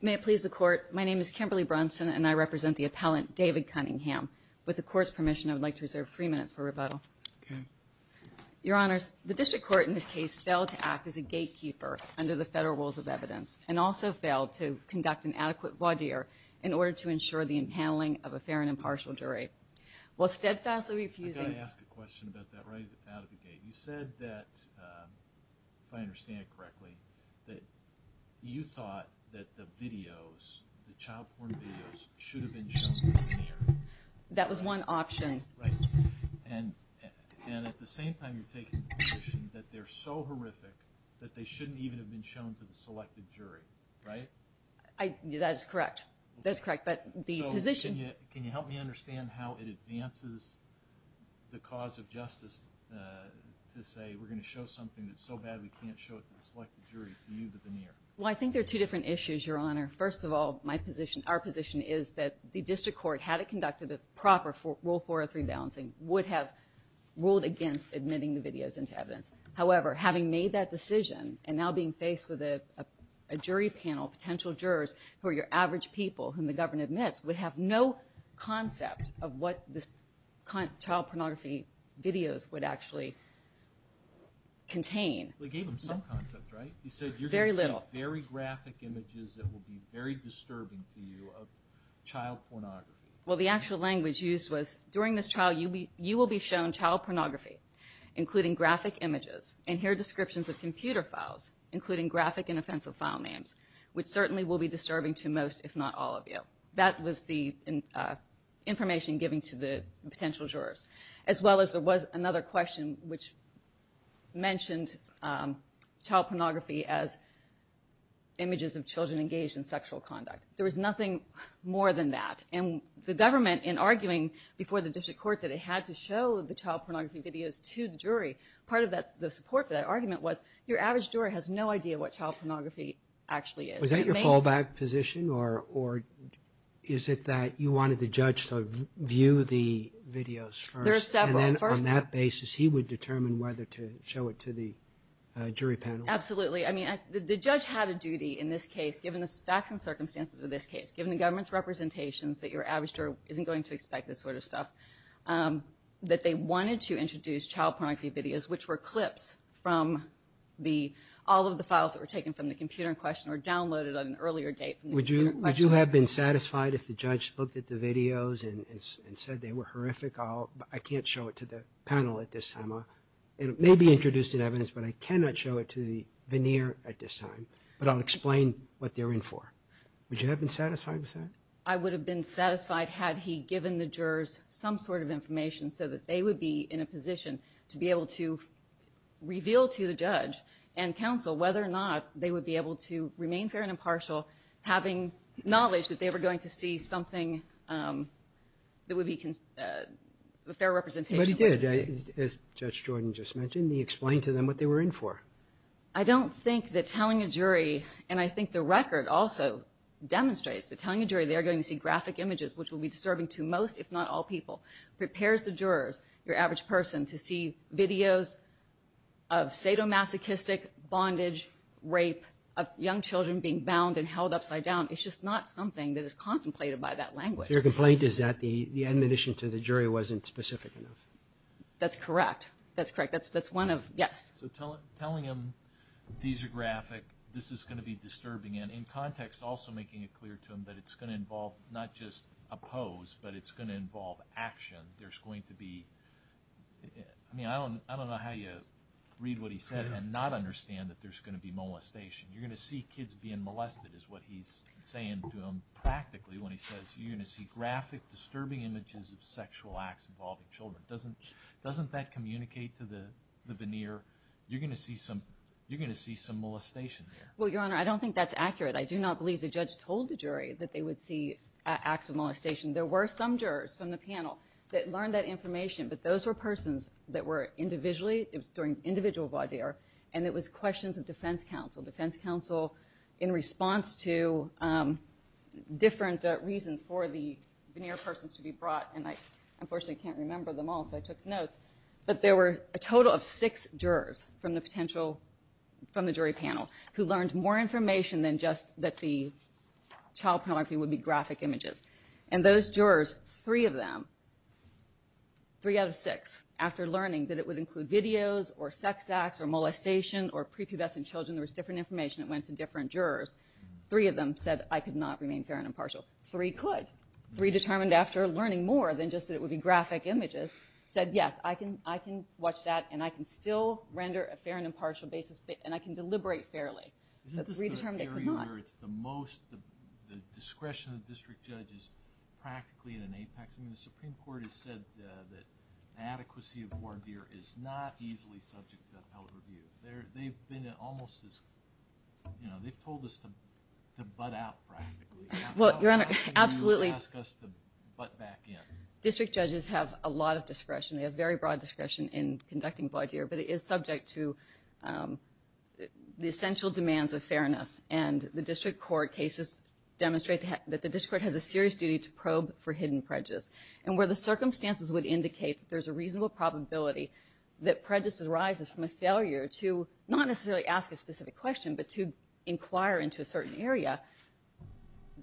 May it please the court, my name is Kimberly Brunson and I represent the appellant David Cunningham. With the court's permission, I would like to reserve three minutes for rebuttal. Your honors, the district court in this case failed to act as a gatekeeper under the federal rules of evidence and also failed to conduct an adequate voir dire in order to ensure the impaneling of a fair and impartial jury. While steadfastly refusing... I've got to ask a question about that right out of the gate. You said that, if I understand it correctly, that you thought that the videos, the child porn videos, should have been shown to the jury. That was one option. Right. And at the same time you're taking the position that they're so horrific that they shouldn't even have been shown to the selected jury, right? That is correct. That is correct. But the position... Can you help me understand how it advances the cause of justice to say we're going to show something that's so bad we can't show it to the selected jury, for you to veneer? Well I think there are two different issues, your honor. First of all, my position, our position is that the district court, had it conducted a proper Rule 403 balancing, would have ruled against admitting the videos into evidence. However, having made that decision and now being faced with a jury panel, potential jurors, who are your average people whom the government admits, would have no concept of what the child pornography videos would actually contain. They gave them some concept, right? Very little. You said you're going to see very graphic images that will be very disturbing to you of child pornography. Well the actual language used was, during this trial you will be shown child pornography, including graphic images, and here are descriptions of computer files, including graphic and offensive file names, which certainly will be disturbing to most, if not all of you. That was the information given to the potential jurors. As well as there was another question which mentioned child pornography as images of children engaged in sexual conduct. There was nothing more than that. And the government, in arguing before the district court that it had to show the child pornography videos to the jury, part of the support for that argument was, your average juror has no idea what child pornography actually is. Was that your fallback position, or is it that you wanted the judge to view the videos first? There are several. And then on that basis, he would determine whether to show it to the jury panel? Absolutely. I mean, the judge had a duty in this case, given the facts and circumstances of this case, given the government's representations that your average juror isn't going to expect this sort of stuff, that they wanted to introduce child pornography videos, which were clips from all of the files that were taken from the computer in question, or downloaded on an earlier date from the computer in question. Would you have been satisfied if the judge looked at the videos and said they were horrific? I can't show it to the panel at this time. It may be introduced in evidence, but I cannot show it to the veneer at this time. But I'll explain what they're in for. Would you have been satisfied with that? I would have been satisfied had he given the jurors some sort of information so that they would be in a position to be able to reveal to the judge and counsel whether or not they would be able to remain fair and impartial, having knowledge that they were going to see something that would be a fair representation of what they see. But he did. As Judge Jordan just mentioned, he explained to them what they were in for. I don't think that telling a jury, and I think the record also demonstrates that telling a jury they are going to see graphic images, which will be disturbing to most, if not all, prepares the jurors, your average person, to see videos of sadomasochistic bondage, rape, of young children being bound and held upside down. It's just not something that is contemplated by that language. So your complaint is that the admonition to the jury wasn't specific enough? That's correct. That's correct. That's one of, yes. So telling them these are graphic, this is going to be disturbing. And in context, also making it clear to them that it's going to involve not just a pose, but it's going to involve action. There's going to be, I mean, I don't know how you read what he said and not understand that there's going to be molestation. You're going to see kids being molested is what he's saying to them practically when he says you're going to see graphic, disturbing images of sexual acts involving children. Doesn't that communicate to the veneer? You're going to see some molestation there. Well, Your Honor, I don't think that's accurate. I do not believe the judge told the jury that they would see acts of molestation. There were some jurors from the panel that learned that information. But those were persons that were individually, it was during individual voir dire, and it was questions of defense counsel. Defense counsel in response to different reasons for the veneer persons to be brought. And I unfortunately can't remember them all, so I took notes. But there were a total of six jurors from the potential, from the jury panel, who learned more information than just that the child pornography would be graphic images. And those jurors, three of them, three out of six, after learning that it would include videos or sex acts or molestation or prepubescent children, there was different information that went to different jurors, three of them said I could not remain fair and impartial. Three could. Three determined after learning more than just that it would be graphic images said yes, I can watch that and I can still render a fair and impartial basis and I can deliberate fairly. Isn't this the area where it's the most, the discretion of district judges practically in an apex? I mean, the Supreme Court has said that the adequacy of voir dire is not easily subject to appellate review. They've been almost as, you know, they've told us to butt out practically. Well, Your Honor, absolutely. They don't ask us to butt back in. District judges have a lot of discretion. They have very broad discretion in conducting voir dire, but it is subject to the essential demands of fairness. And the district court cases demonstrate that the district court has a serious duty to probe for hidden prejudice. And where the circumstances would indicate that there's a reasonable probability that prejudice arises from a failure to not necessarily ask a specific question, but to inquire into a certain area,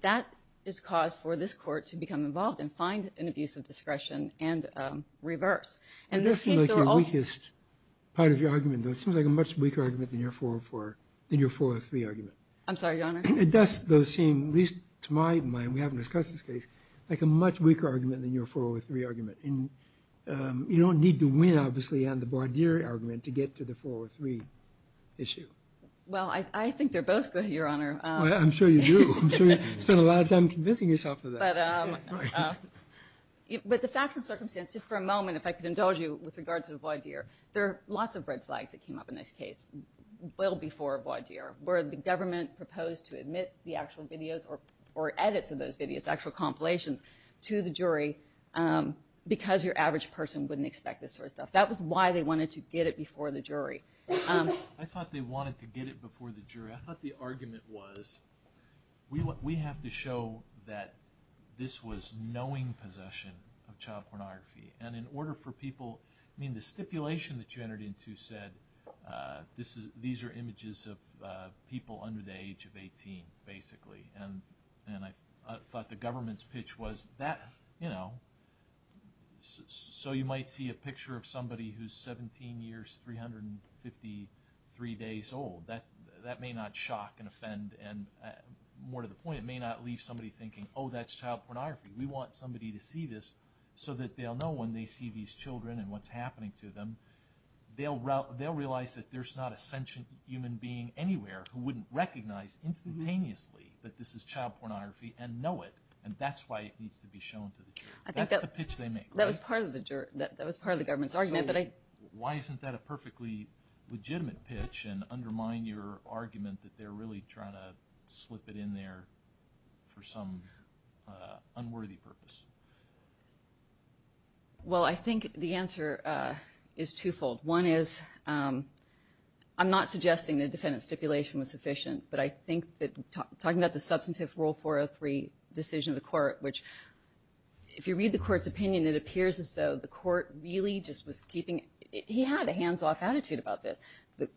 that is cause for this court to become involved and find an abuse of discretion and reverse. It does seem like your weakest part of your argument, though. It seems like a much weaker argument than your 404, than your 403 argument. I'm sorry, Your Honor? It does, though, seem, at least to my mind, we haven't discussed this case, like a much weaker argument than your 403 argument. And you don't need to win, obviously, on the voir dire argument to get to the 403 issue. Well, I think they're both good, Your Honor. I'm sure you do. I'm sure you spend a lot of time convincing yourself of that. But the facts and circumstances, just for a moment, if I could indulge you with regards to the voir dire, there are lots of red flags that came up in this case, well before voir dire, where the government proposed to admit the actual videos or edits of those videos, actual compilations, to the jury because your average person wouldn't expect this sort of stuff. That was why they wanted to get it before the jury. I thought they wanted to get it before the jury. I thought the argument was, we have to show that this was knowing possession of child pornography. And in order for people, I mean, the stipulation that you entered into said, these are images of people under the age of 18, basically. And I thought the government's pitch was, you know, so you might see a picture of somebody who's 17 years, 353 days old. That may not shock and offend, and more to the point, it may not leave somebody thinking, oh, that's child pornography. We want somebody to see this so that they'll know when they see these children and what's happening to them, they'll realize that there's not a sentient human being anywhere who wouldn't recognize instantaneously that this is child pornography and know it. And that's why it needs to be shown to the jury. That's the pitch they make. That was part of the government's argument. Why isn't that a perfectly legitimate pitch and undermine your argument that they're really trying to slip it in there for some unworthy purpose? Well, I think the answer is twofold. One is, I'm not suggesting the defendant's stipulation was sufficient, but I think that talking about the substantive Rule 403 decision of the court, which, if you read the court's report, he had a hands-off attitude about this. The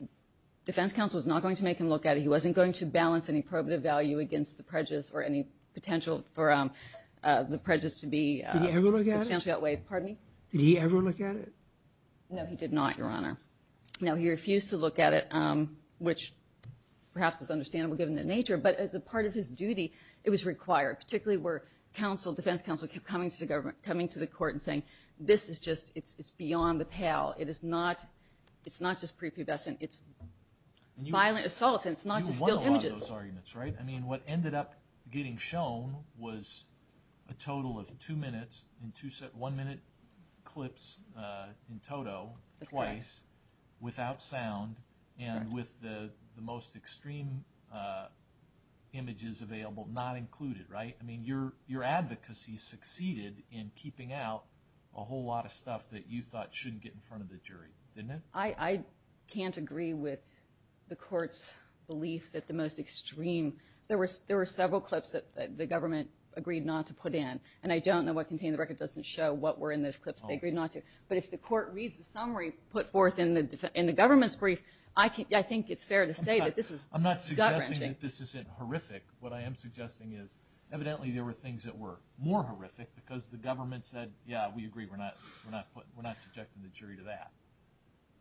defense counsel was not going to make him look at it. He wasn't going to balance any probative value against the prejudice or any potential for the prejudice to be substantial. Did he ever look at it? Pardon me? Did he ever look at it? No, he did not, Your Honor. No, he refused to look at it, which perhaps is understandable given the nature. But as a part of his duty, it was required, particularly where defense counsel kept coming to the court and saying, this is just, it's beyond the pale. It's not just prepubescent. It's violent assault, and it's not just still images. You won a lot of those arguments, right? I mean, what ended up getting shown was a total of two minutes and one minute clips in total, twice, without sound, and with the most extreme images available not included, right? I mean, your advocacy succeeded in keeping out a whole lot of stuff that you thought shouldn't get in front of the jury, didn't it? I can't agree with the court's belief that the most extreme, there were several clips that the government agreed not to put in. And I don't know what contained in the record doesn't show what were in those clips they agreed not to. But if the court reads the summary put forth in the government's brief, I think it's fair to say that this is gut-wrenching. I'm not suggesting that this isn't horrific. What I am suggesting is evidently there were things that were more horrific because the government said, yeah, we agree. We're not subjecting the jury to that.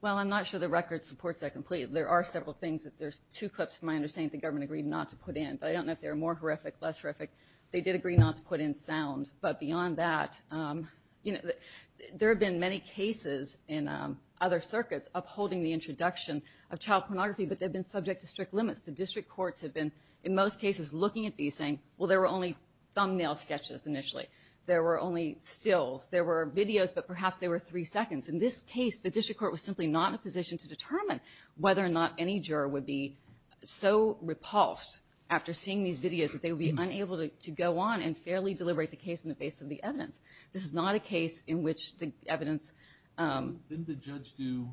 Well, I'm not sure the record supports that completely. There are several things that there's two clips, from my understanding, that the government agreed not to put in. But I don't know if they were more horrific, less horrific. They did agree not to put in sound. But beyond that, there have been many cases in other circuits upholding the introduction of child pornography, but they've been subject to strict limits. The district courts have been, in most cases, looking at these saying, well, there were only thumbnail sketches initially. There were only stills. There were videos, but perhaps there were three seconds. In this case, the district court was simply not in a position to determine whether or not any juror would be so repulsed after seeing these videos that they would be unable to go on and fairly deliberate the case on the basis of the evidence. This is not a case in which the evidence... Didn't the judge do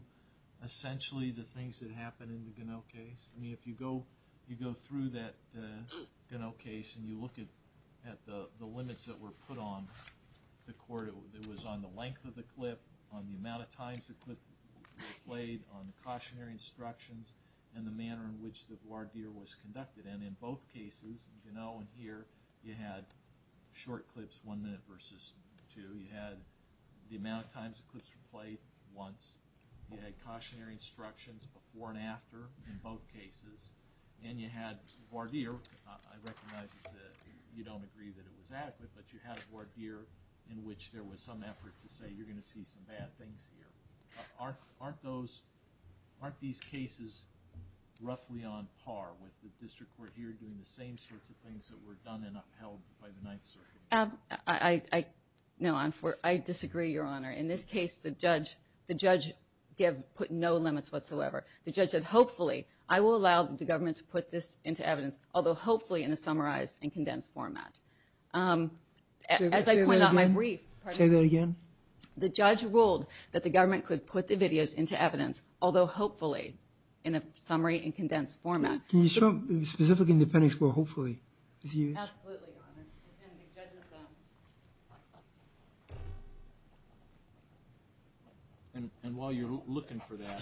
essentially the things that happened in the Ganell case? I mean, if you go through that Ganell case and you look at the limits that were put on the court, it was on the length of the clip, on the amount of times the clip was played, on the cautionary instructions, and the manner in which the voir dire was conducted. And in both cases, Ganell and here, you had short clips, one minute versus two. You had the amount of times the clips were played, once. You had cautionary instructions before and after in both cases. And you had voir dire. I recognize that you don't agree that it was adequate, but you had voir dire in which there was some effort to say, you're going to see some bad things here. Aren't those... Aren't these cases roughly on par with the district court here doing the same sorts of things that were done and upheld by the Ninth Circuit? I disagree, Your Honor. In this case, the judge put no limits whatsoever. The judge said, hopefully, I will allow the government to put this into evidence, although hopefully in a summarized and condensed format. Say that again? The judge ruled that the government could put the videos into evidence, although hopefully in a summary and condensed format. Can you show specific independence for hopefully? Absolutely, Your Honor. And while you're looking for that,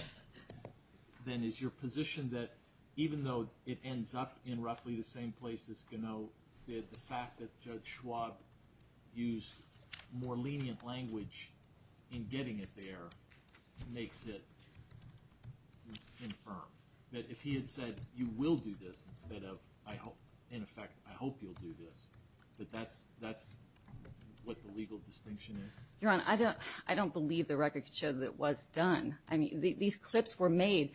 then is your position that even though it ends up in roughly the same place as Ganoe, the fact that Judge Schwab used more lenient language in getting it there makes it infirm? That if he had said, you will do this instead of, in effect, I hope you'll do this, that that's what the legal distinction is? Your Honor, I don't believe the record could show that it was done. These clips were made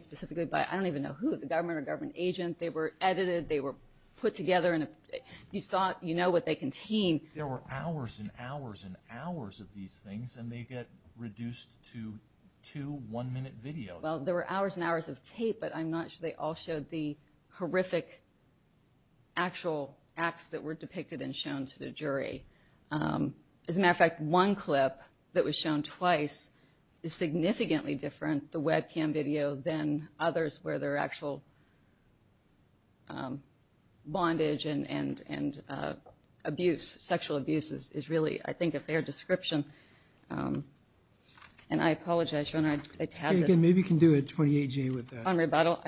specifically by, I don't even know who, the government or government agent. They were edited. They were put together. You know what they contain. There were hours and hours and hours of these things, and they get reduced to two one-minute videos. Well, there were hours and hours of tape, but I'm not sure they all showed the horrific actual acts that were depicted and shown to the jury. As a matter of fact, one clip that was shown twice is significantly different, the webcam video, than others where there are actual bondage and abuse, sexual abuse is really, I think, a fair description. And I apologize, Your Honor, I tabbed this. Maybe you can do a 28-G with that. On rebuttal?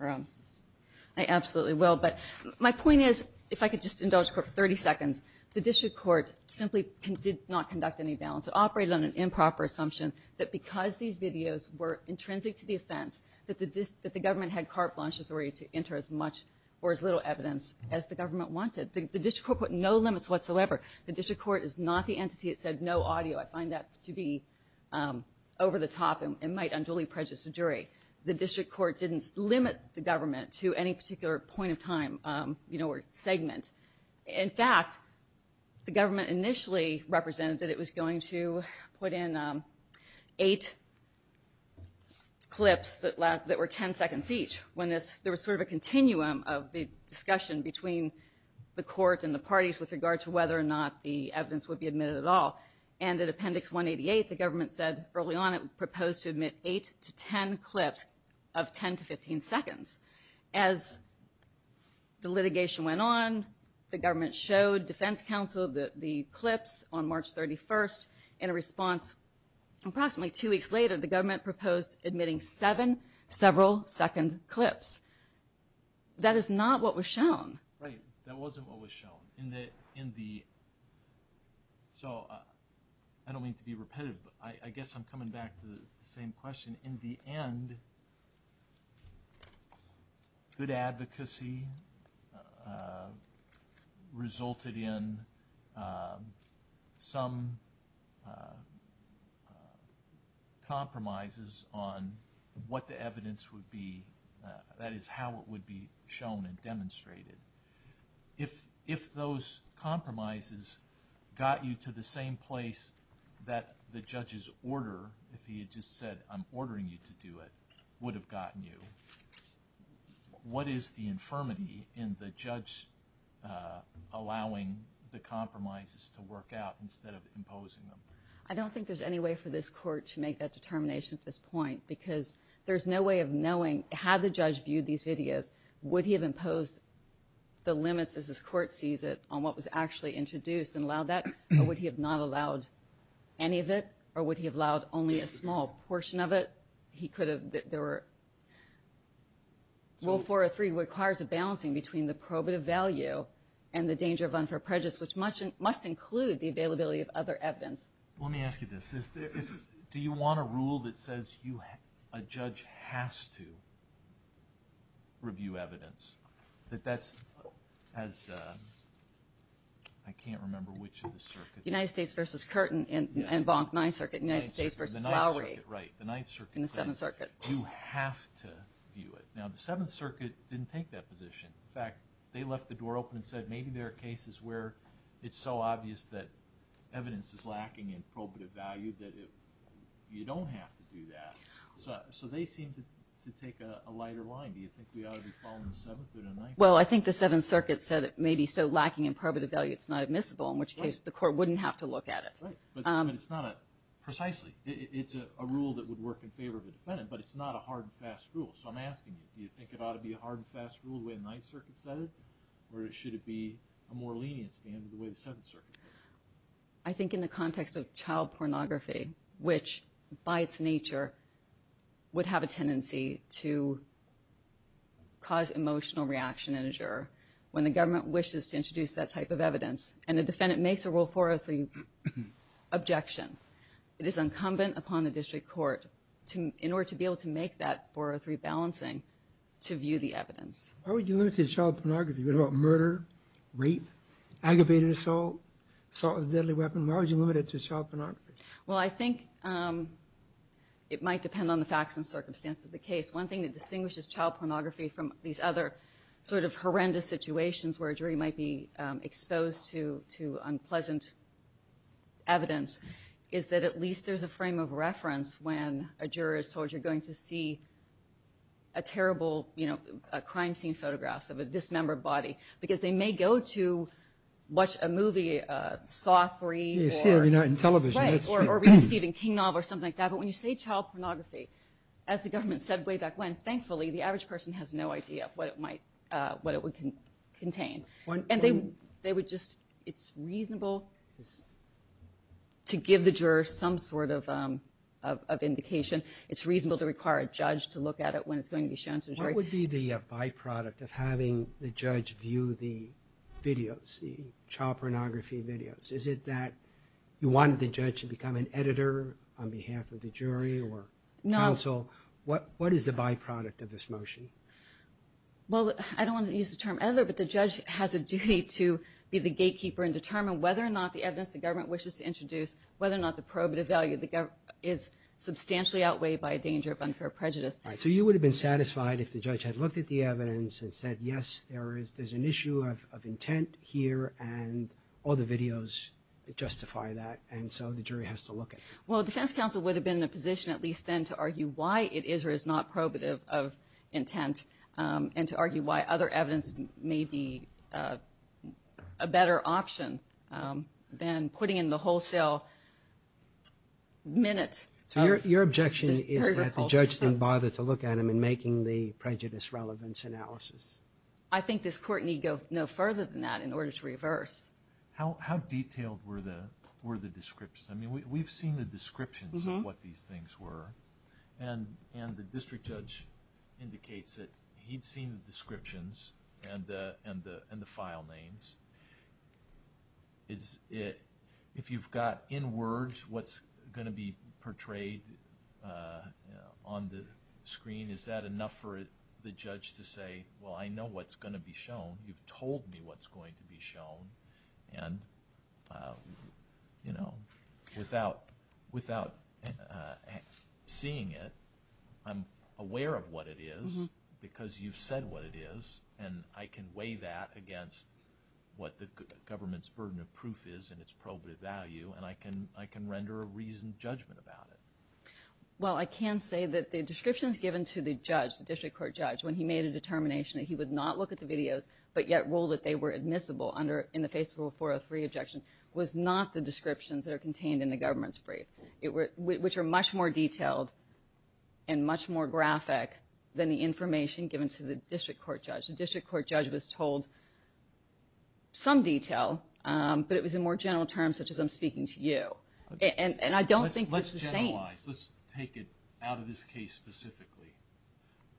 I absolutely will. But my point is, if I could just indulge the Court for 30 seconds, the District Court simply did not conduct any balance. It operated on an improper assumption that because these videos were intrinsic to the offense that the government had carte blanche authority to enter as much or as little evidence as the government wanted. The District Court put no limits whatsoever. The District Court is not the entity that said no audio. I find that to be over the top and might unduly prejudice the jury. The District Court didn't limit the government to any particular point of time or segment. In fact, the government initially represented that it was going to put in eight clips that were 10 seconds each. There was sort of a continuum of the discussion between the Court and the parties with regard to whether or not the evidence would be admitted at all. And in Appendix 188, the government said early on it proposed to admit eight to 10 clips of 10 to 15 seconds. As the litigation went on, the government showed Defense Council the clips on March 31st in a response. Approximately two weeks later, the government proposed admitting seven several-second clips. That is not what was shown. Right, that wasn't what was shown. So, I don't mean to be repetitive, but I guess I'm coming back to the same question. In the end, good advocacy resulted in some compromises on what the evidence would be. That is, how it would be shown and demonstrated. If those compromises got you to the same place that the judge's order, if he had just said, I'm ordering you to do it, would have gotten you, what is the infirmity in the judge allowing the compromises to work out instead of imposing them? I don't think there's any way for this Court to make that determination at this point, because there's no way of knowing, had the judge viewed these videos, would he have imposed the limits, as this Court sees it, on what was actually introduced and allowed that? Or would he have not allowed any of it? Or would he have allowed only a small portion of it? He could have... Rule 403 requires a balancing between the probative value and the danger of unfair prejudice, which must include the availability of other evidence. Let me ask you this. Do you want a rule that says a judge has to review evidence? That that's as... I can't remember which of the circuits... United States v. Curtin and Bonk Ninth Circuit, United States v. Lowry. Right, the Ninth Circuit said you have to view it. Now, the Seventh Circuit didn't take that position. In fact, they left the door open and said maybe there are cases where it's so obvious that evidence is lacking in probative value that you don't have to do that. So they seem to take a lighter line. Do you think we ought to be following the Seventh or the Ninth? Well, I think the Seventh Circuit said it may be so lacking in probative value that it's not admissible, in which case the court wouldn't have to look at it. Right, but it's not a... Precisely, it's a rule that would work in favor of a defendant, but it's not a hard and fast rule. So I'm asking you, do you think it ought to be a hard and fast rule the way the Ninth Circuit said it? Or should it be a more lenient standard the way the Seventh Circuit said it? I think in the context of child pornography, which, by its nature, would have a tendency to cause emotional reaction in a juror, when the government wishes to introduce that type of evidence, and the defendant makes a Rule 403 objection, it is incumbent upon the district court, in order to be able to make that 403 balancing, to view the evidence. Why would you limit it to child pornography? What about murder, rape, aggravated assault, assault with a deadly weapon? Why would you limit it to child pornography? Well, I think it might depend on the facts and circumstances of the case. One thing that distinguishes child pornography from these other sort of horrendous situations where a jury might be exposed to unpleasant evidence, is that at least there's a frame of reference when a juror is told you're going to see a terrible crime scene photograph of a dismembered body, because they may go to watch a movie, Saw III, or... Yeah, you see it on television, that's true. Right, or read a Stephen King novel or something like that. But when you say child pornography, as the government said way back when, thankfully, the average person has no idea what it would contain. And they would just... It's reasonable to give the juror some sort of indication. It's reasonable to require a judge to look at it when it's going to be shown to a jury. What would be the byproduct of having the judge view the videos, the child pornography videos? Is it that you wanted the judge to become an editor on behalf of the jury or counsel? What is the byproduct of this motion? Well, I don't want to use the term editor, but the judge has a duty to be the gatekeeper and determine whether or not the evidence the government wishes to introduce, whether or not the probative value is substantially outweighed by a danger of unfair prejudice. So you would have been satisfied if the judge had looked at the evidence and said, yes, there's an issue of intent here, and all the videos justify that, and so the jury has to look at it. Well, defense counsel would have been in a position at least then to argue why it is or is not probative of intent, and to argue why other evidence may be a better option than putting in the wholesale minute... So your objection is that the judge didn't bother to look at them in making the prejudice relevance analysis? I think this Court need go no further than that in order to reverse. How detailed were the descriptions? I mean, we've seen the descriptions of what these things were, and the district judge indicates that he'd seen the descriptions and the file names. If you've got in words what's going to be portrayed on the screen, is that enough for the judge to say, well, I know what's going to be shown, you've told me what's going to be shown, and without seeing it, I'm aware of what it is because you've said what it is, and I can weigh that against what the government's burden of proof is and its probative value, and I can render a reasoned judgment about it. Well, I can say that the descriptions given to the judge, the district court judge, when he made a determination that he would not look at the videos, but yet rule that they were admissible in the face of a 403 objection, was not the descriptions that are contained in the government's brief, which are much more detailed and much more graphic than the information given to the district court judge. The district court judge was told some detail, but it was in more general terms, such as I'm speaking to you. And I don't think it's the same. Let's generalize. Let's take it out of this case specifically.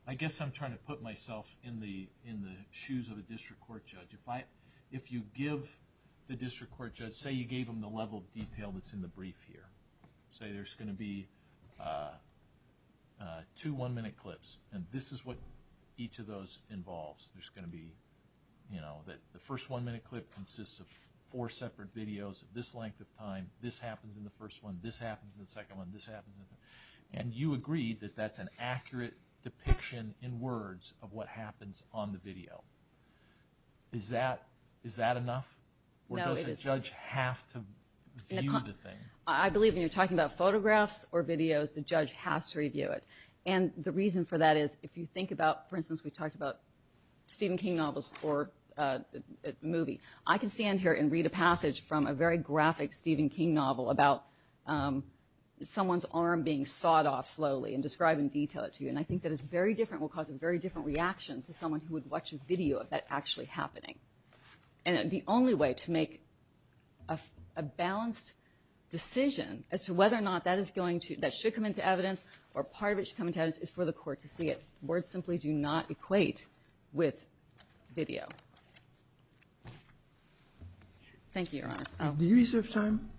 I guess I'm trying to put myself in the shoes of a district court judge. If you give the district court judge, say you gave them the level of detail that's in the brief here, say there's going to be two one-minute clips, and this is what each of those involves. There's going to be, you know, that the first one-minute clip consists of four separate videos of this length of time, this happens in the first one, this happens in the second one, this happens in the... And you agree that that's an accurate depiction in words of what happens on the video. Is that enough? Or does the judge have to view the thing? I believe when you're talking about photographs or videos, the judge has to review it. And the reason for that is, if you think about, for instance, we talked about Stephen King novels or a movie. I can stand here and read a passage from a very graphic Stephen King novel about someone's arm being sawed off slowly and describe in detail it to you. And I think that is very different, will cause a very different reaction to someone who would watch a video of that actually happening. And the only way to make a balanced decision as to whether or not that is going to, that should come into evidence, or part of it should come into evidence, is for the court to see it. Words simply do not equate with video. Thank you, Your Honor. Did you reserve time?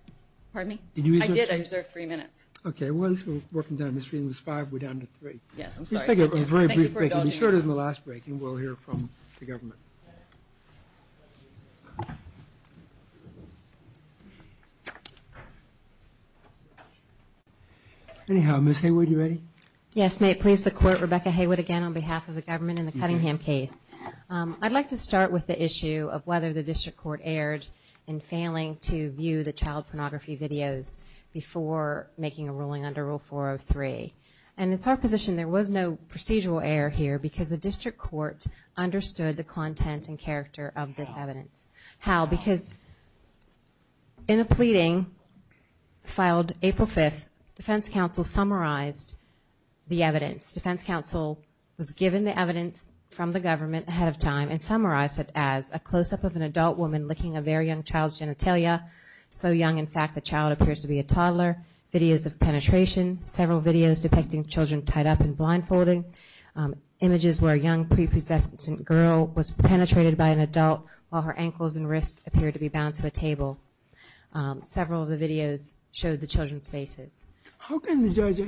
Pardon me? I did, I reserved three minutes. Okay, once we're working down this reading, it's five, we're down to three. Yes, I'm sorry. Let's take a very brief break. It'll be shorter than the last break and we'll hear from the government. Anyhow, Ms. Haywood, you ready? Yes, may it please the court, Rebecca Haywood again on behalf of the government in the Cunningham case. I'd like to start with the issue of whether the district court erred in failing to view the child pornography videos before making a ruling under Rule 403. And it's our position there was no procedural error here because the district court understood the content and character of this evidence. How? How, because in a pleading filed April 5th, defense counsel summarized the evidence. Defense counsel was given the evidence from the government ahead of time and summarized it as a close-up of an adult woman licking a very young child's hair, videos of penetration, several videos depicting children tied up and blindfolding, images where a young, prepossessive girl was penetrated by an adult while her ankles and wrists appeared to be bound to a table. Several of the videos showed the children's faces. How can the judge,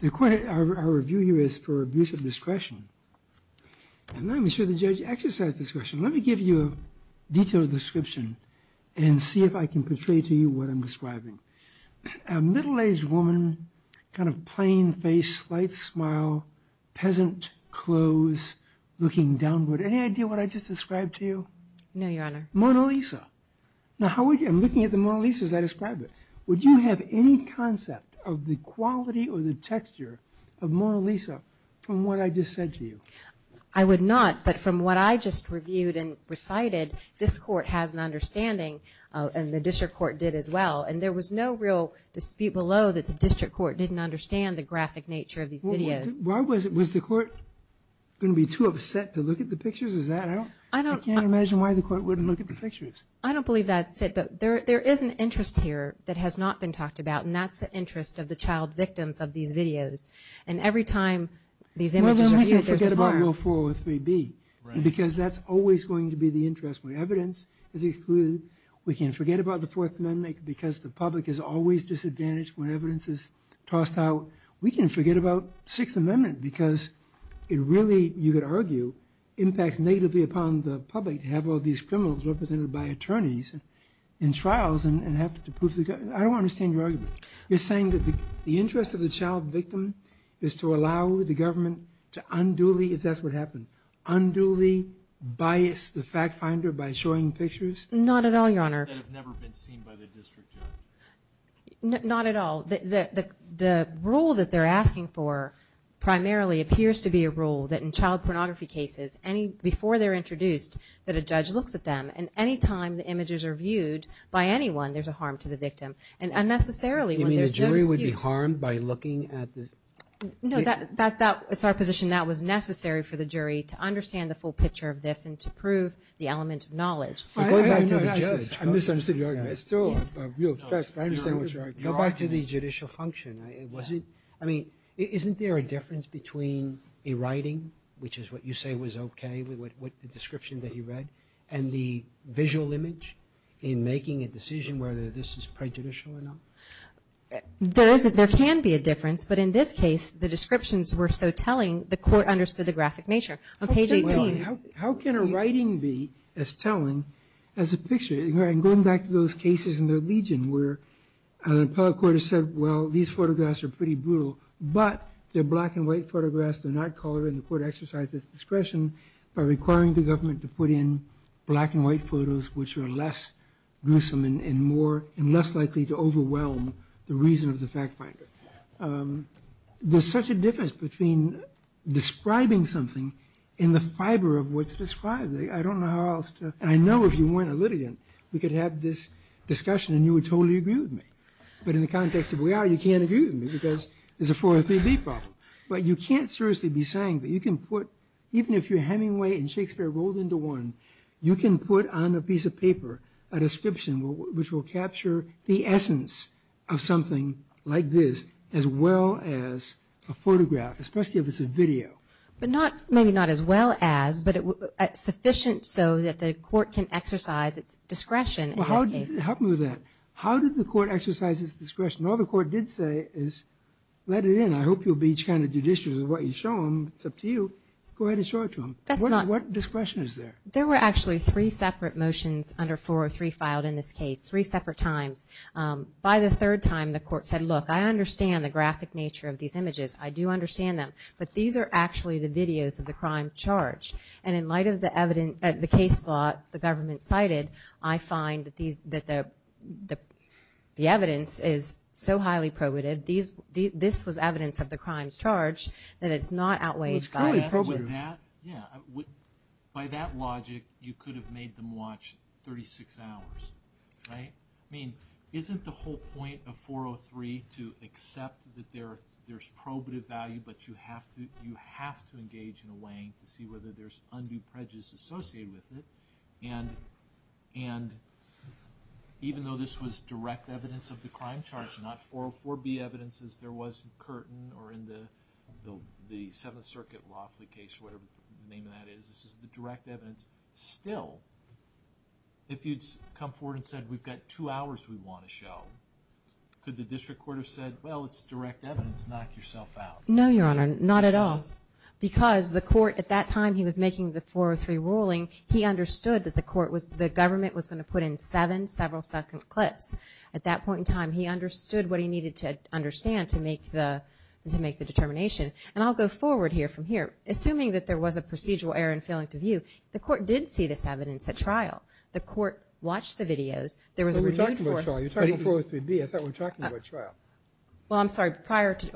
the court, our review here is for abuse of discretion. I'm not even sure the judge exercised discretion. Let me give you a detailed description and see if I can portray to you what I'm describing. A middle-aged woman, kind of plain face, slight smile, peasant clothes, looking downward. Any idea what I just described to you? No, Your Honor. Mona Lisa. Now, I'm looking at the Mona Lisa as I described it. Would you have any concept of the quality or the texture of Mona Lisa from what I just said to you? I would not, but from what I just reviewed and recited, this court has an understanding and the district court did as well, and there was no real dispute below that the district court didn't understand the graphic nature of these videos. Was the court going to be too upset to look at the pictures? I can't imagine why the court wouldn't look at the pictures. I don't believe that's it, but there is an interest here that has not been talked about, and that's the interest of the child victims of these videos. And every time these images are viewed, there's a bar. Well, why don't you forget about Rule 403B? Because that's always going to be the interest. When evidence is excluded, we can forget about the Fourth Amendment because the public is always disadvantaged when evidence is tossed out. We can forget about Sixth Amendment because it really, you could argue, impacts negatively upon the public to have all these criminals represented by attorneys in trials and have to prove the... I don't understand your argument. You're saying that the interest of the child victim is to allow the government to unduly, if that's what happened, unduly bias the fact finder by showing pictures? Not at all, Your Honor. That have never been seen by the district judge? Not at all. The rule that they're asking for primarily appears to be a rule that in child pornography cases, before they're introduced, that a judge looks at them, and any time the images are viewed by anyone, there's a harm to the victim. And unnecessarily, when there's no dispute... You mean the jury would be harmed by looking at the... No, it's our position that was necessary for the jury to understand the full picture of this and to prove the element of knowledge. I misunderstood your argument. It's still a real stress, but I understand what you're arguing. Go back to the judicial function. I mean, isn't there a difference between a writing, which is what you say was okay, the description that he read, and the visual image in making a decision whether this is prejudicial or not? There can be a difference, but in this case, the descriptions were so telling, the court understood the graphic nature. On page 18... How can a writing be as telling as a picture? And going back to those cases in the Legion where an appellate court has said, well, these photographs are pretty brutal, but they're black and white photographs, they're not colored, and the court exercised its discretion by requiring the government to put in black and white photos, which are less gruesome and less likely to overwhelm the reason of the fact finder. There's such a difference between describing something in the fiber of what's described. I don't know how else to... And I know if you weren't a litigant, we could have this discussion and you would totally agree with me. But in the context of where you are, you can't agree with me because there's a 403B problem. But you can't seriously be saying that you can put, even if your Hemingway and Shakespeare rolled into one, you can put on a piece of paper a description, which will capture the essence of something like this, as well as a photograph, especially if it's a video. But maybe not as well as, but sufficient so that the court can exercise its discretion in this case. Well, help me with that. How did the court exercise its discretion? All the court did say is, let it in. I hope you'll be kind of judicious with what you show them. It's up to you. Go ahead and show it to them. What discretion is there? There were actually three separate motions under 403 filed in this case, three separate times. By the third time, the court said, look, I understand the graphic nature of these images. I do understand them. But these are actually the videos of the crime charged. And in light of the case law the government cited, I find that the evidence is so highly probative, this was evidence of the crime's charge, that it's not outweighed by the evidence. By that logic, you could have made them watch 36 hours, right? I mean, isn't the whole point of 403 to accept that there's probative value, but you have to engage in a way to see whether there's undue prejudice associated with it? And even though this was direct evidence of the crime charge, not 404B evidence as there was in Curtin or in the Seventh Circuit Laughley case or whatever the name of that is, this is the direct evidence. Still, if you'd come forward and said, we've got two hours we want to show, could the district court have said, well, it's direct evidence, knock yourself out? No, Your Honor, not at all. Because the court, at that time he was making the 403 ruling, he understood that the court was, the government was going to put in seven several-second clips. At that point in time, he understood what he needed to understand to make the determination. And I'll go forward here from here. Assuming that there was a procedural error in failing to view, the court did see this evidence at trial. The court watched the videos. You're talking about 403B, I thought we were talking about trial. Well, I'm sorry,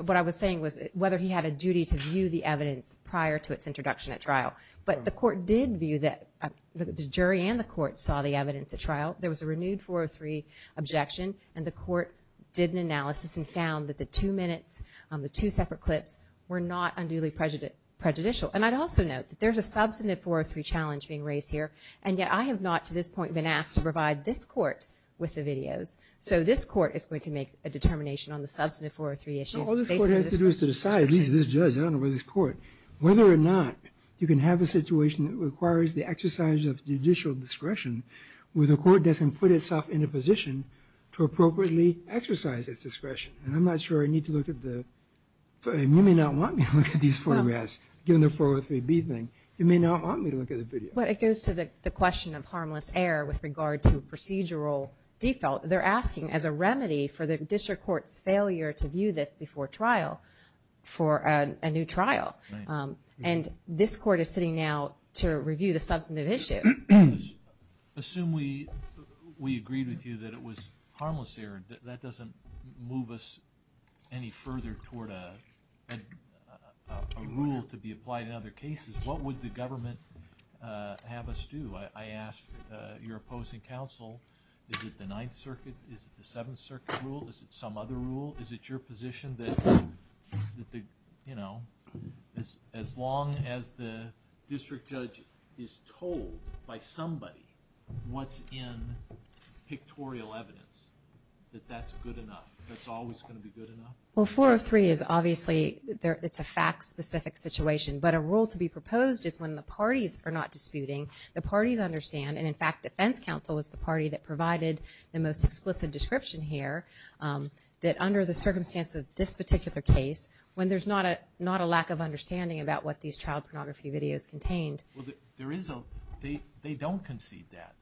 what I was saying was whether he had a duty to view the evidence prior to its introduction at trial. But the court did view that, the jury and the court saw the evidence at trial. There was a renewed 403 objection, and the court did an analysis and found that the two minutes, the two separate clips, were not unduly prejudicial. And I'd also note that there's a substantive 403 challenge being raised here, and yet I have not, to this point, been asked to provide this court with the videos. So this court is going to make a determination on the substantive 403 issues. No, all this court has to do is decide, at least this judge, I don't know about this court, whether or not you can have a situation that requires the exercise of judicial discretion where the court doesn't put itself in a position to appropriately exercise its discretion. And I'm not sure I need to look at the... You may not want me to look at these photographs, given the 403B thing. You may not want me to look at the video. But it goes to the question of harmless error with regard to procedural default. They're asking, as a remedy for the district court's failure to view this before trial, for a new trial. And this court is sitting now to review the substantive issue. Assume we agreed with you that it was harmless error. That doesn't move us any further toward a rule to be applied in other cases. What would the government have us do? I ask your opposing counsel, is it the Ninth Circuit? Is it the Seventh Circuit rule? Is it some other rule? Is it your position that, you know, as long as the district judge is told by somebody what's in pictorial evidence, that that's good enough? That's always going to be good enough? Well, 403 is obviously... It's a fact-specific situation. But a rule to be proposed is when the parties are not disputing. The parties understand, and in fact, defense counsel is the party that provided the most explicit description here, that under the circumstance of this particular case, when there's not a lack of understanding about what these child pornography videos contained... They don't concede that.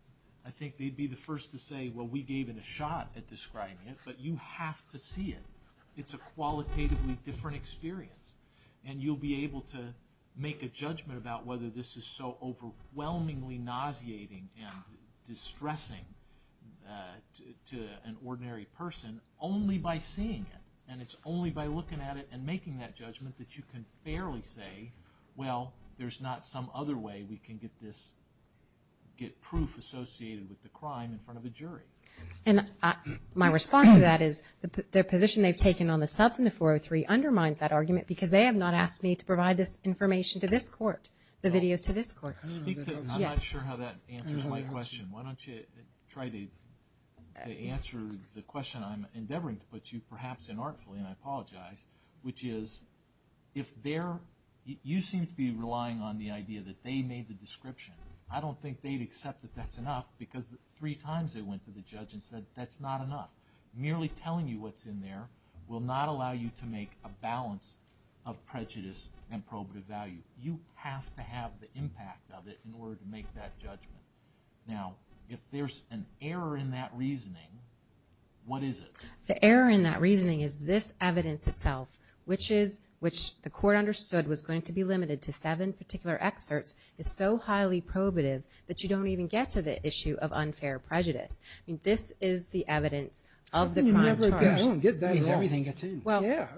I think they'd be the first to say, well, we gave it a shot at describing it, but you have to see it. It's a qualitatively different experience. And you'll be able to make a judgment about whether this is so overwhelmingly nauseating and distressing to an ordinary person only by seeing it. And it's only by looking at it and making that judgment that you can fairly say, well, there's not some other way we can get this... get proof associated with the crime in front of a jury. And my response to that is the position they've taken on the substance of 403 undermines that argument, because they have not asked me to provide this information to this court, the videos to this court. I'm not sure how that answers my question. Why don't you try to answer the question I'm endeavoring to put to you, perhaps inartfully, and I apologize, which is, if they're... you seem to be relying on the idea that they made the description. I don't think they'd accept that that's enough, because three times they went to the judge and said, that's not enough. Merely telling you what's in there will not allow you to make a balance of prejudice and probative value. You have to have the impact of it in order to make that judgment. Now, if there's an error in that reasoning, what is it? The error in that reasoning is this evidence itself, which the court understood was going to be limited to seven particular excerpts, is so highly probative that you don't even get to the issue of unfair prejudice. I mean, this is the evidence of the crime charge.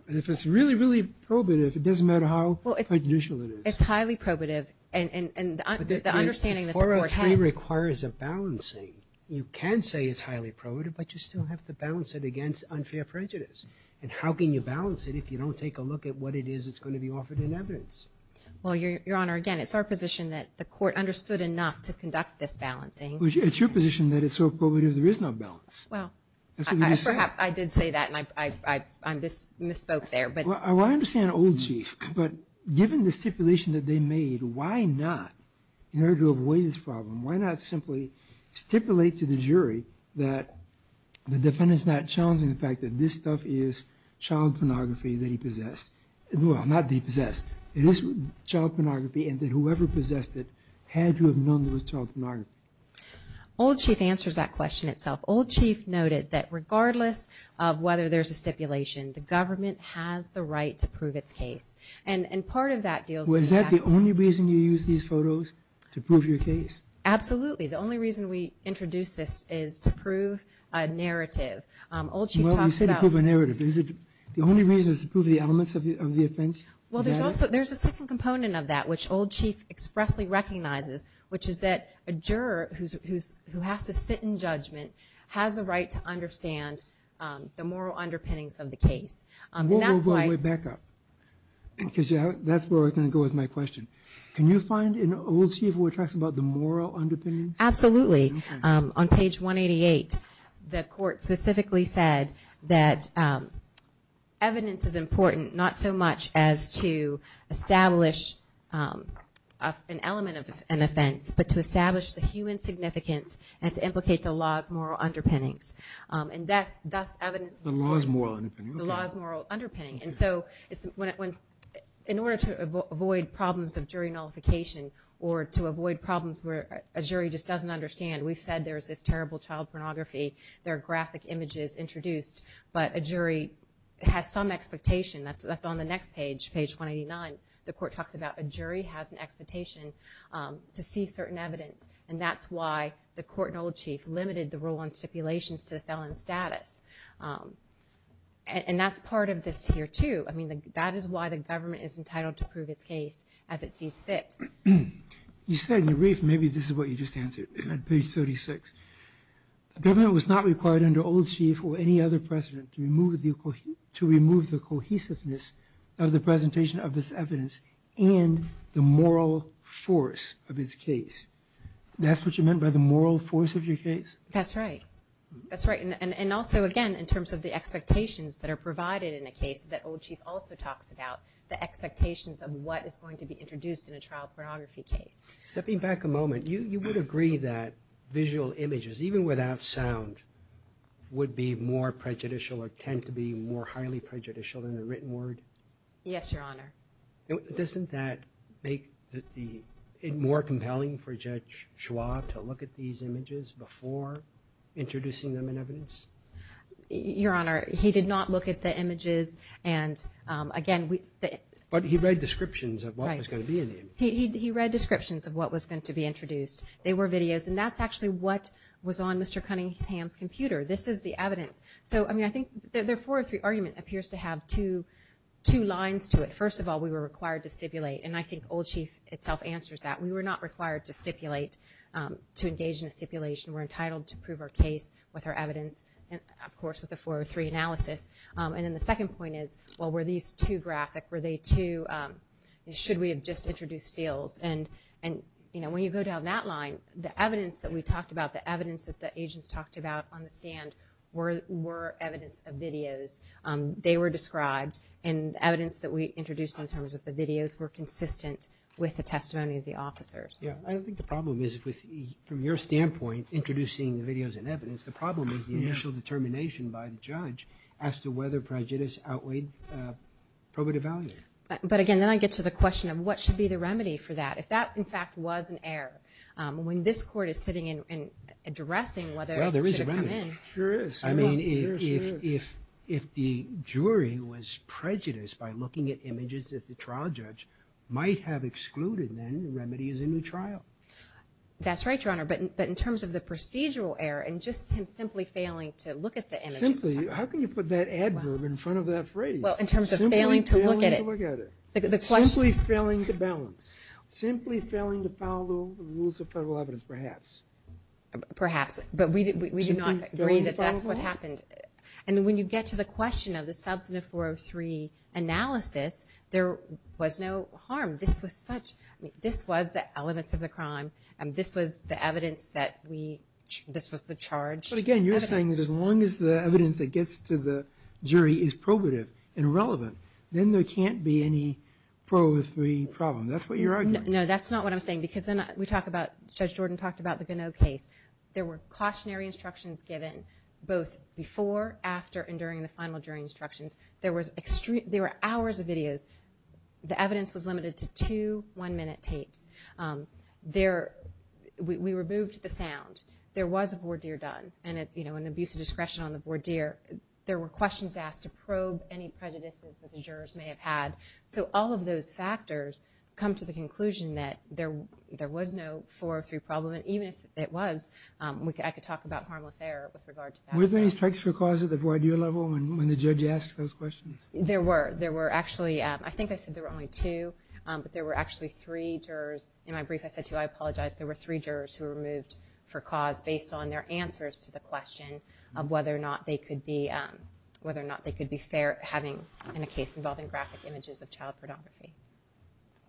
If it's really, really probative, it doesn't matter how prejudicial it is. It's highly probative, and the understanding that the court had... 403 requires a balancing. You can say it's highly probative, but you still have to balance it against unfair prejudice. And how can you balance it if you don't take a look at what it is that's going to be offered in evidence? Well, Your Honor, again, it's our position that the court understood enough to conduct this balancing. It's your position that it's so probative there is no balance. Well, perhaps I did say that, and I misspoke there. Well, I understand, old chief, but given the stipulation that they made, why not, in order to avoid this problem, why not simply stipulate to the jury that the defendant's not challenging the fact that this stuff is child pornography that he possessed. Well, not that he possessed. It is child pornography, and that whoever possessed it had to have known it was child pornography. Old chief answers that question itself. Old chief noted that regardless of whether there's a stipulation, the government has the right to prove its case. Was that the only reason you used these photos to prove your case? Absolutely. The only reason we introduced this is to prove a narrative. Well, you said to prove a narrative. The only reason is to prove the elements of the offense? Well, there's a second component of that which old chief expressly recognizes, which is that a juror who has to sit in judgment has a right to understand the moral underpinnings of the case. Whoa, whoa, whoa. That's where we're going to go with my question. Can you find an old chief who talks about the moral underpinnings? Absolutely. On page 188, the court specifically said that evidence is important not so much as to establish an element of an offense, but to establish the human significance and to implicate the law's moral underpinnings. The law's moral underpinnings. In order to avoid problems of jury nullification or to avoid problems where a jury just doesn't understand, we've said there's this terrible child pornography, there are graphic images introduced, but a jury has some expectation, that's on the next page, page 189. The court talks about a jury has an expectation to see certain evidence and that's why the court and old chief limited the rule on stipulations to the felon status. And that's part of this here too. That is why the government is entitled to prove its case as it sees fit. You said in your brief, maybe this is what you just answered, on page 36. The government was not required under old chief or any other precedent to remove the cohesiveness of the presentation of this evidence and the moral force of its case. That's what you meant by the moral force of your case? That's right. And also again, in terms of the expectations that are provided in a case that old chief also talks about, the expectations of what is going to be introduced in a child pornography case. Stepping back a moment, you would agree that visual images, even without sound, would be more prejudicial or tend to be more highly prejudicial than the written word? Yes, your honor. Doesn't that make it more compelling for Judge Schwab to look at these images before introducing them in evidence? Your honor, he did not look at the images and again... But he read descriptions of what was going to be in the images. He read descriptions of what was going to be introduced. They were videos and that's actually what was on Mr. Cunningham's computer. This is the evidence. So I think their 403 argument appears to have two lines to it. First of all, we were required to stipulate and I think old chief itself answers that. We were not required to stipulate to engage in a stipulation. We're entitled to prove our case with our evidence and of course with a 403 analysis. And then the second point is well, were these too graphic? Were they too... Should we have just introduced deals? And when you go down that line, the evidence that we talked about, the evidence that the agents talked about on the stand were evidence of videos. They were described and evidence that we introduced in terms of the videos were consistent with the testimony of the officers. Yeah, I think the problem is from your standpoint, introducing the videos and evidence, the problem is the initial determination by the judge as to whether prejudice outweighed probative value. But again, then I get to the question of what should be the remedy for that. If that in fact was an error, when this court is sitting and addressing whether it should have come in... Well, there is a remedy. Sure is. I mean, if the jury was prejudiced by looking at images that the trial judge might have excluded, then the remedy is a new trial. That's right, Your Honor, but in terms of the procedural error and just him simply failing to look at the images... Simply? How can you put that adverb in front of that phrase? Well, in terms of failing to look at it... Simply failing to look at it. The question... Simply failing to balance. Simply failing to follow the rules of federal evidence, perhaps. Perhaps, but we do not agree that that's what happened. And when you get to the question of the substantive 403 analysis, there was no harm. This was such... This was the elements of the crime. This was the evidence that we... This was the charged evidence. But again, you're saying that as long as the evidence that gets to the jury is probative and relevant, then there can't be any 403 problem. That's what you're arguing. No, that's not what I'm saying because then we talk about... Judge Jordan talked about the Gannot case. There were cautionary instructions given both before, after, and during the final instructions. There were hours of videos. The evidence was limited to two one-minute tapes. There... We removed the sound. There was a voir dire done. And it's an abuse of discretion on the voir dire. There were questions asked to probe any prejudices that the jurors may have had. So all of those factors come to the conclusion that there was no 403 problem. And even if it was, I could talk about harmless error with regard to that. Were there any strikes for cause at the voir dire level when the judge asked those questions? There were. There were actually... I think I said there were only two. But there were actually three jurors... In my brief I said two. I apologize. There were three jurors who were removed for cause based on their answers to the question of whether or not they could be fair having a case involving graphic images of child pornography.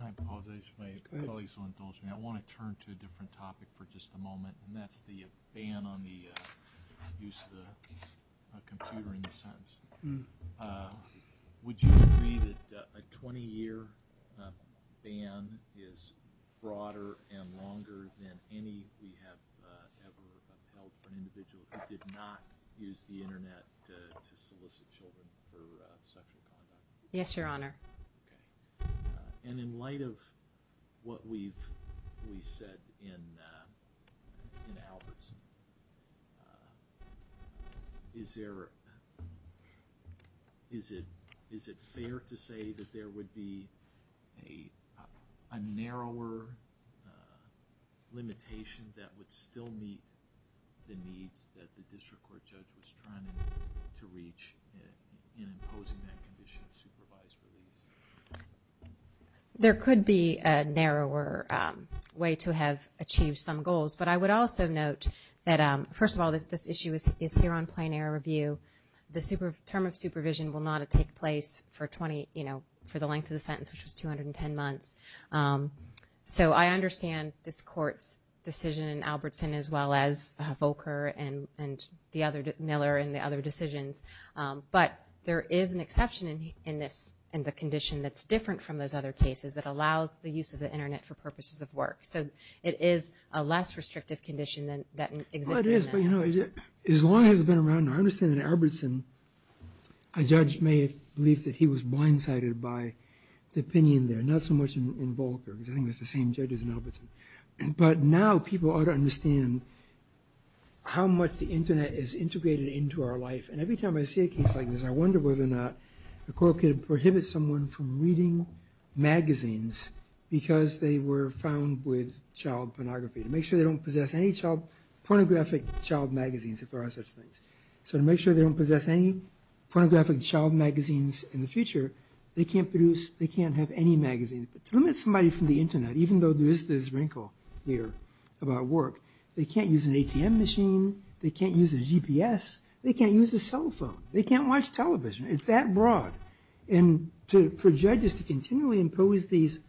I apologize. My colleagues will indulge me. I want to turn to a different topic for just a moment. And that's the ban on the use of the computer in a sense. Would you agree that a 20 year ban is broader and longer than any we have ever upheld for an individual who did not use the internet to solicit children for sexual conduct? Yes, Your Honor. And in light of what we've said in Albertson is there is it fair to say that there would be a narrower limitation that would still meet the needs that the district court judge was trying to reach in imposing that condition of supervised release? There could be a narrower way to have achieved some goals. But I would also note that first of all this issue is here on plain air review. The term of supervision will not take place for the length of the sentence, which was 210 months. So I understand this court's decision in Albertson as well as Volcker and Miller and the other decisions. But there is an exception in this in the condition that's different from those other cases that allows the use of the internet for purposes of work. So it is a less restrictive condition that exists. As long as it's been around, I understand in Albertson a judge may believe that he was blindsided by the opinion there, not so much in Volcker, because I think it's the same judges in Albertson. But now people ought to understand how much the internet is integrated into our life. And every time I see a case like this I wonder whether or not the court could prohibit someone from reading magazines because they were found with child pornography. To make sure they don't possess any pornographic child magazines if there are such things. So to make sure they don't possess any pornographic child magazines in the future, they can't produce, they can't have any magazines. To limit somebody from the internet, even though there is this wrinkle here about work, they can't use an ATM machine, they can't use a GPS, they can't use a cell phone, they can't watch television. It's that broad. And for judges to continually impose these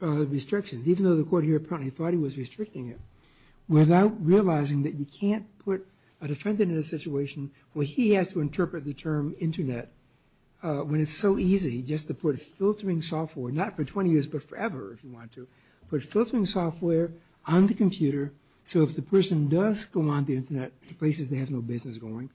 restrictions, even though the court here apparently thought he was restricting it, without realizing that you can't put a defendant in a situation where he has to interpret the term internet when it's so easy just to put filtering software, not for 20 years but forever if you want to, put filtering software on the computer so if the person does go on the internet to places they have no business going,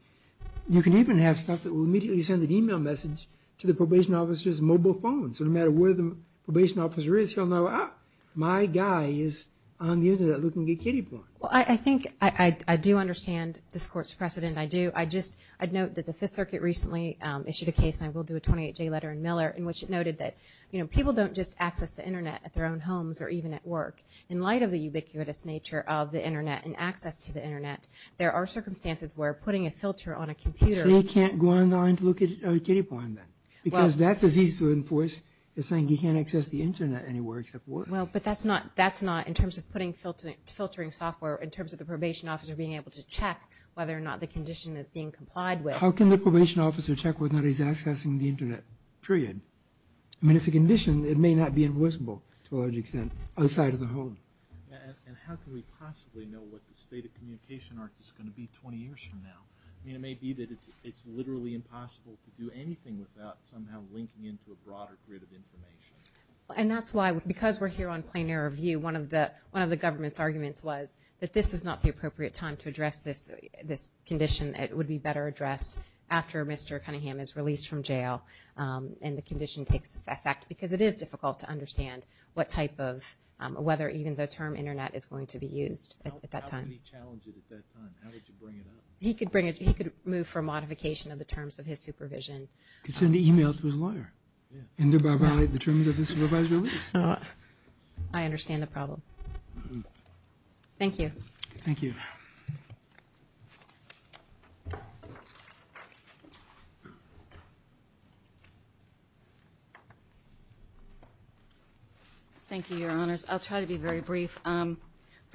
you can even have stuff that will immediately send an email message to the probation officer's mobile phone. So no matter where the probation officer is, he'll know ah, my guy is on the internet looking to get kiddie porn. I think I do understand this court's precedent, I do. I just note that the Fifth Circuit recently issued a case, and I will do a 28-J letter in Miller, in which it noted that people don't just access the internet at their own homes or even at work. In light of the ubiquitous nature of the internet and access to the internet, there are circumstances where putting a filter on a computer... So he can't go on the internet to look at kiddie porn then? Because that's as easy to enforce as saying he can't access the internet anywhere except work. Well, but that's not, that's not in terms of putting filtering software, in terms of the probation officer being able to check whether or not the condition is being complied with. How can the probation officer check whether or not he's accessing the internet? Period. I mean it's a condition, it may not be enforceable to a large extent outside of the home. And how can we possibly know what the state of communication arc is going to be 20 years from now? I mean it may be that it's literally impossible to do anything without somehow linking into a broader grid of information. And that's why, because we're here on Plain Air Review, one of the government's arguments was that this is not the appropriate time to address this condition. It would be better addressed after Mr. Cunningham is released from jail. And the condition takes effect because it is difficult to understand what type of, whether even the term internet is going to be used at that time. How can he challenge it at that time? How would you bring it up? He could move for a modification of the terms of his supervision. He could send an email to his lawyer. And thereby violate the terms of his supervisory release. I understand the problem. Thank you. Thank you. Thank you, Your Honors. I'll try to be very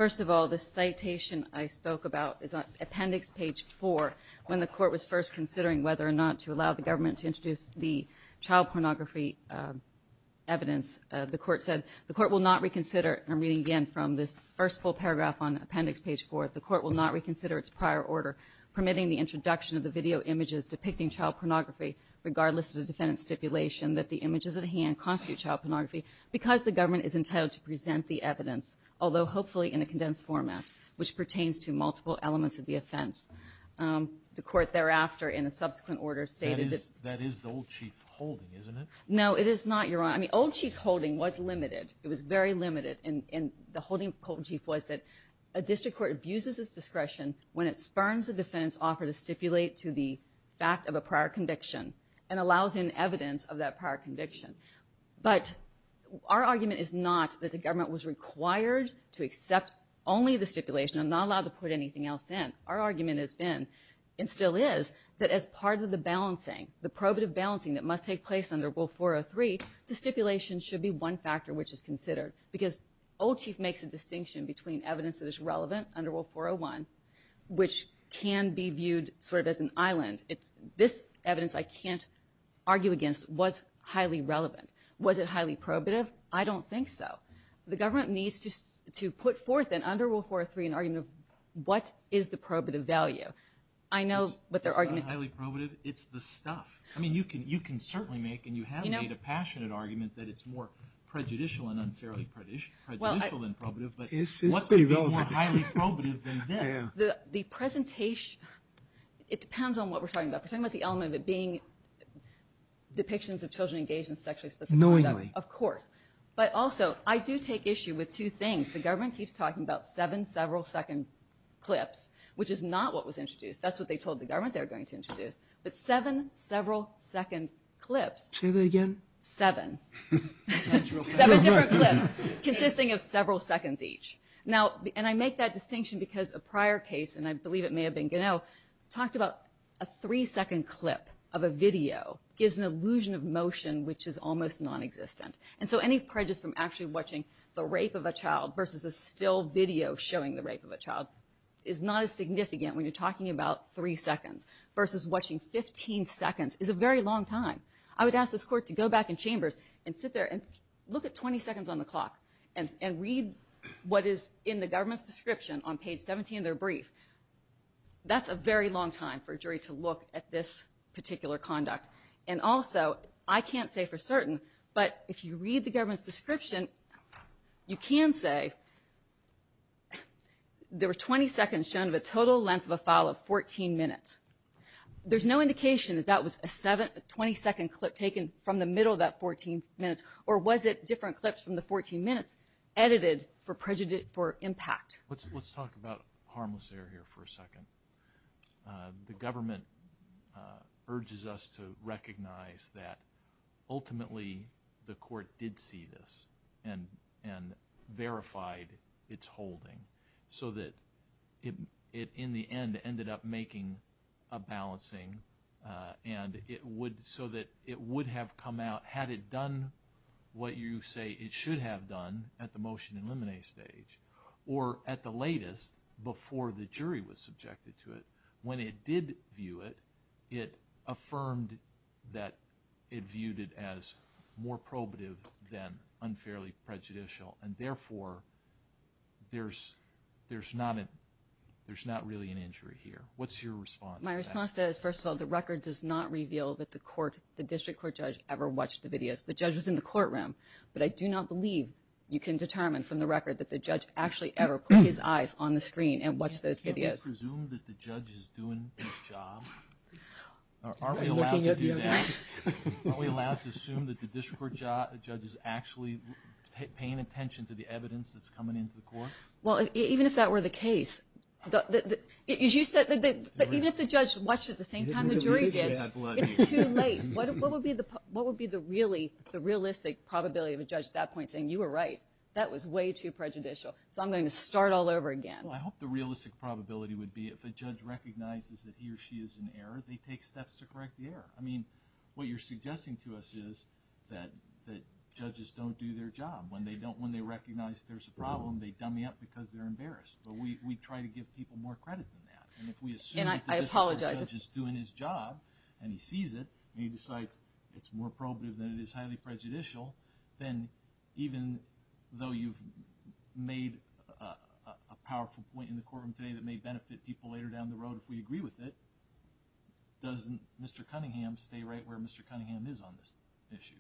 simple. The citation I spoke about is on appendix page 4 when the court was first considering whether or not to allow the government to introduce the child pornography evidence. The court said, the court will not reconsider, and I'm reading again from this first full paragraph on appendix page 4, the court will not reconsider its prior order permitting the introduction of the video images depicting child pornography regardless at hand constitute child pornography because the government is entitled to present the evidence, although hopefully in a condensed format, which pertains to multiple elements of the offense. The court thereafter in a subsequent order stated That is the old chief's holding, isn't it? No, it is not, Your Honor. I mean, old chief's holding was limited. It was very limited. And the holding of the old chief was that a district court abuses its discretion when it spurns a defendant's offer to stipulate to the fact of a prior conviction and allows in evidence of that prior conviction. But our argument is not that the government was required to accept only the stipulation and not allowed to put anything else in. Our argument has been, and still is, that as part of the balancing, the probative balancing that must take place under Rule 403, the stipulation should be one factor which is considered because old chief makes a distinction between evidence that is relevant under Rule 401 which can be viewed sort of as an island. This evidence I can't argue against was highly relevant. Was it highly probative? I don't think so. The government needs to put forth under Rule 403 an argument of what is the probative value. I know what their argument is. It's not highly probative, it's the stuff. I mean, you can certainly make, and you have made a passionate argument that it's more prejudicial and unfairly prejudicial than probative, but what could be more highly probative than this? The presentation, it depends on what we're talking about. We're talking about the element of it being depictions of children engaged in sexually specific conduct. Of course. But also, I do take issue with two things. The government keeps talking about seven several second clips, which is not what was introduced. That's what they told the government they were going to introduce, but seven several second clips. Say that again? Seven. Seven different clips consisting of several seconds each. And I make that distinction because a prior case, and I believe it may have been Ganell, talked about a three second clip of a video gives an illusion of motion which is almost non-existent. And so any prejudice from actually watching the rape of a child versus a still video showing the rape of a child is not as significant when you're talking about three seconds versus watching 15 seconds is a very long time. I would ask this court to go back in chambers and sit there and look at 20 seconds on the clock and read what is in the government's description on page 17 of their brief. That's a very long time for a jury to look at this particular conduct. And also I can't say for certain, but if you read the government's description you can say there were 20 seconds shown of a total length of a file of 14 minutes. There's no indication that that was a 20 second clip taken from the middle of that 14 minutes, or was it different clips from the 14 minutes edited for impact. Let's talk about harmless air for a second. The government urges us to recognize that ultimately the court did see this and verified its holding so that it in the end ended up making a balancing and it would so that it would have come out had it done what you say it should have done at the motion and limine stage or at the latest before the jury was subjected to it. When it did view it, it affirmed that it viewed it as more probative than unfairly prejudicial and therefore there's not really an injury here. What's your response to that? First of all, the record does not reveal that the District Court judge ever watched the videos. The judge was in the courtroom, but I do not believe you can determine from the record that the judge actually ever put his eyes on the screen and watched those videos. Can we presume that the judge is doing his job? Are we allowed to do that? Are we allowed to assume that the District Court judge is actually paying attention to the evidence that's coming into the court? Well, even if that were the case, as you said, even if the judge watched at the same time the jury did, it's too late. What would be the realistic probability of a judge at that point saying, you were right, that was way too prejudicial, so I'm going to start all over again? Well, I hope the realistic probability would be if a judge recognizes that he or she is in error, they take steps to correct the error. I mean, what you're suggesting to us is that judges don't do their job. When they recognize there's a problem, they dummy up because they're embarrassed. But we try to give people more credit than that. And if we assume that the District Court judge is doing his job and he sees it, and he decides it's more probative than it is even though you've made a powerful point in the courtroom today that may benefit people later down the road if we agree with it, doesn't Mr. Cunningham stay right where Mr. Cunningham is on this issue?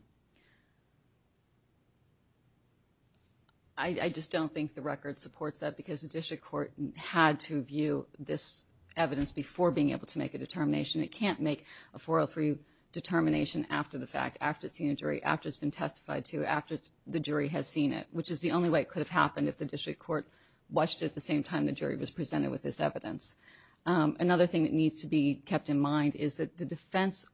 I just don't think the record supports that because the District Court had to view this evidence before being able to make a determination. It can't make a 403 determination after the fact, after it's seen a jury, after it's been testified to, after the jury has seen it, which is the only way it could have happened if the District Court watched at the same time the jury was presented with this evidence. Another thing that needs to be kept in mind is that the defense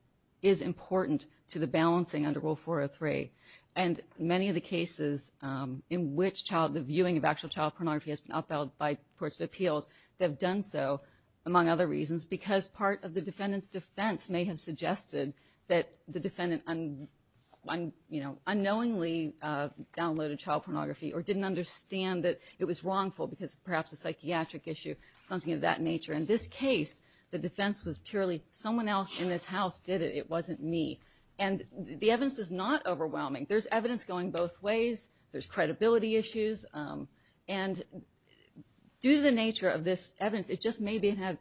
is important to the balancing under Rule 403. And many of the cases in which the viewing of actual child pornography has been upheld by courts of appeals have done so, among other reasons, because part of the defendant's defense may have suggested that the defendant unknowingly downloaded child pornography or didn't understand that it was wrongful because perhaps a psychiatric issue, something of that nature. In this case, the defense was purely, someone else in this house did it, it wasn't me. And the evidence is not overwhelming. There's evidence going both ways, there's credibility issues, and due to the nature of this evidence, it just may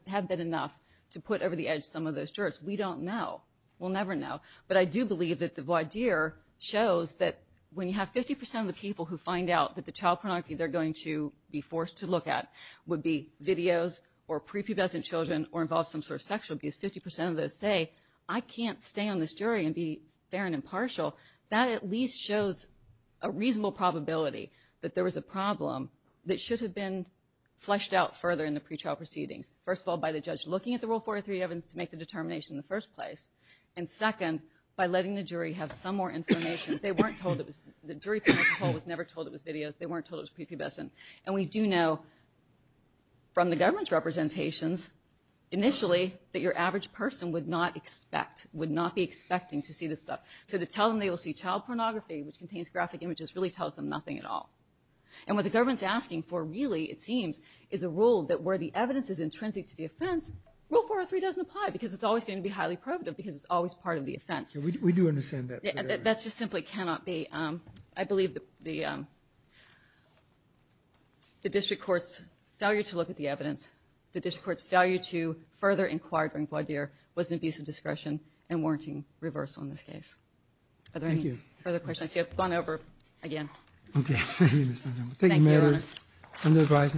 have been enough to put over the edge some of those jurors. We don't know. We'll never know. But I do believe that the voir dire shows that when you have 50% of the people who find out that the child pornography they're going to be forced to look at would be videos or pre-pubescent children or involve some sort of sexual abuse, 50% of those say, I can't stay on this jury and be fair and impartial. That at least shows a reasonable probability that there was a problem that should have been fleshed out further in the pre-trial proceedings. First of all, by the judge looking at the Rule 403 evidence to make the determination in the first place. And second, by letting the jury have some more information. They weren't told the jury panel was never told it was videos, they weren't told it was pre-pubescent. And we do know from the government's representations initially, that your average person would not expect, would not be expecting to see this stuff. So to tell them they will see child pornography, which contains graphic images, really tells them nothing at all. And what the government's asking for really, it seems, is a rule that where the evidence is intrinsic to the offense, Rule 403 doesn't apply because it's always going to be highly prohibitive because it's always part of the offense. We do understand that. That just simply cannot be. I believe the district court's failure to look at the evidence, the district court's failure to further inquire during blood year, was an abuse of discretion and warranting reversal in this case. Thank you. Are there any further questions? I see I've gone over again. Okay. Thank you, Ms. Van Dam. Any other advice?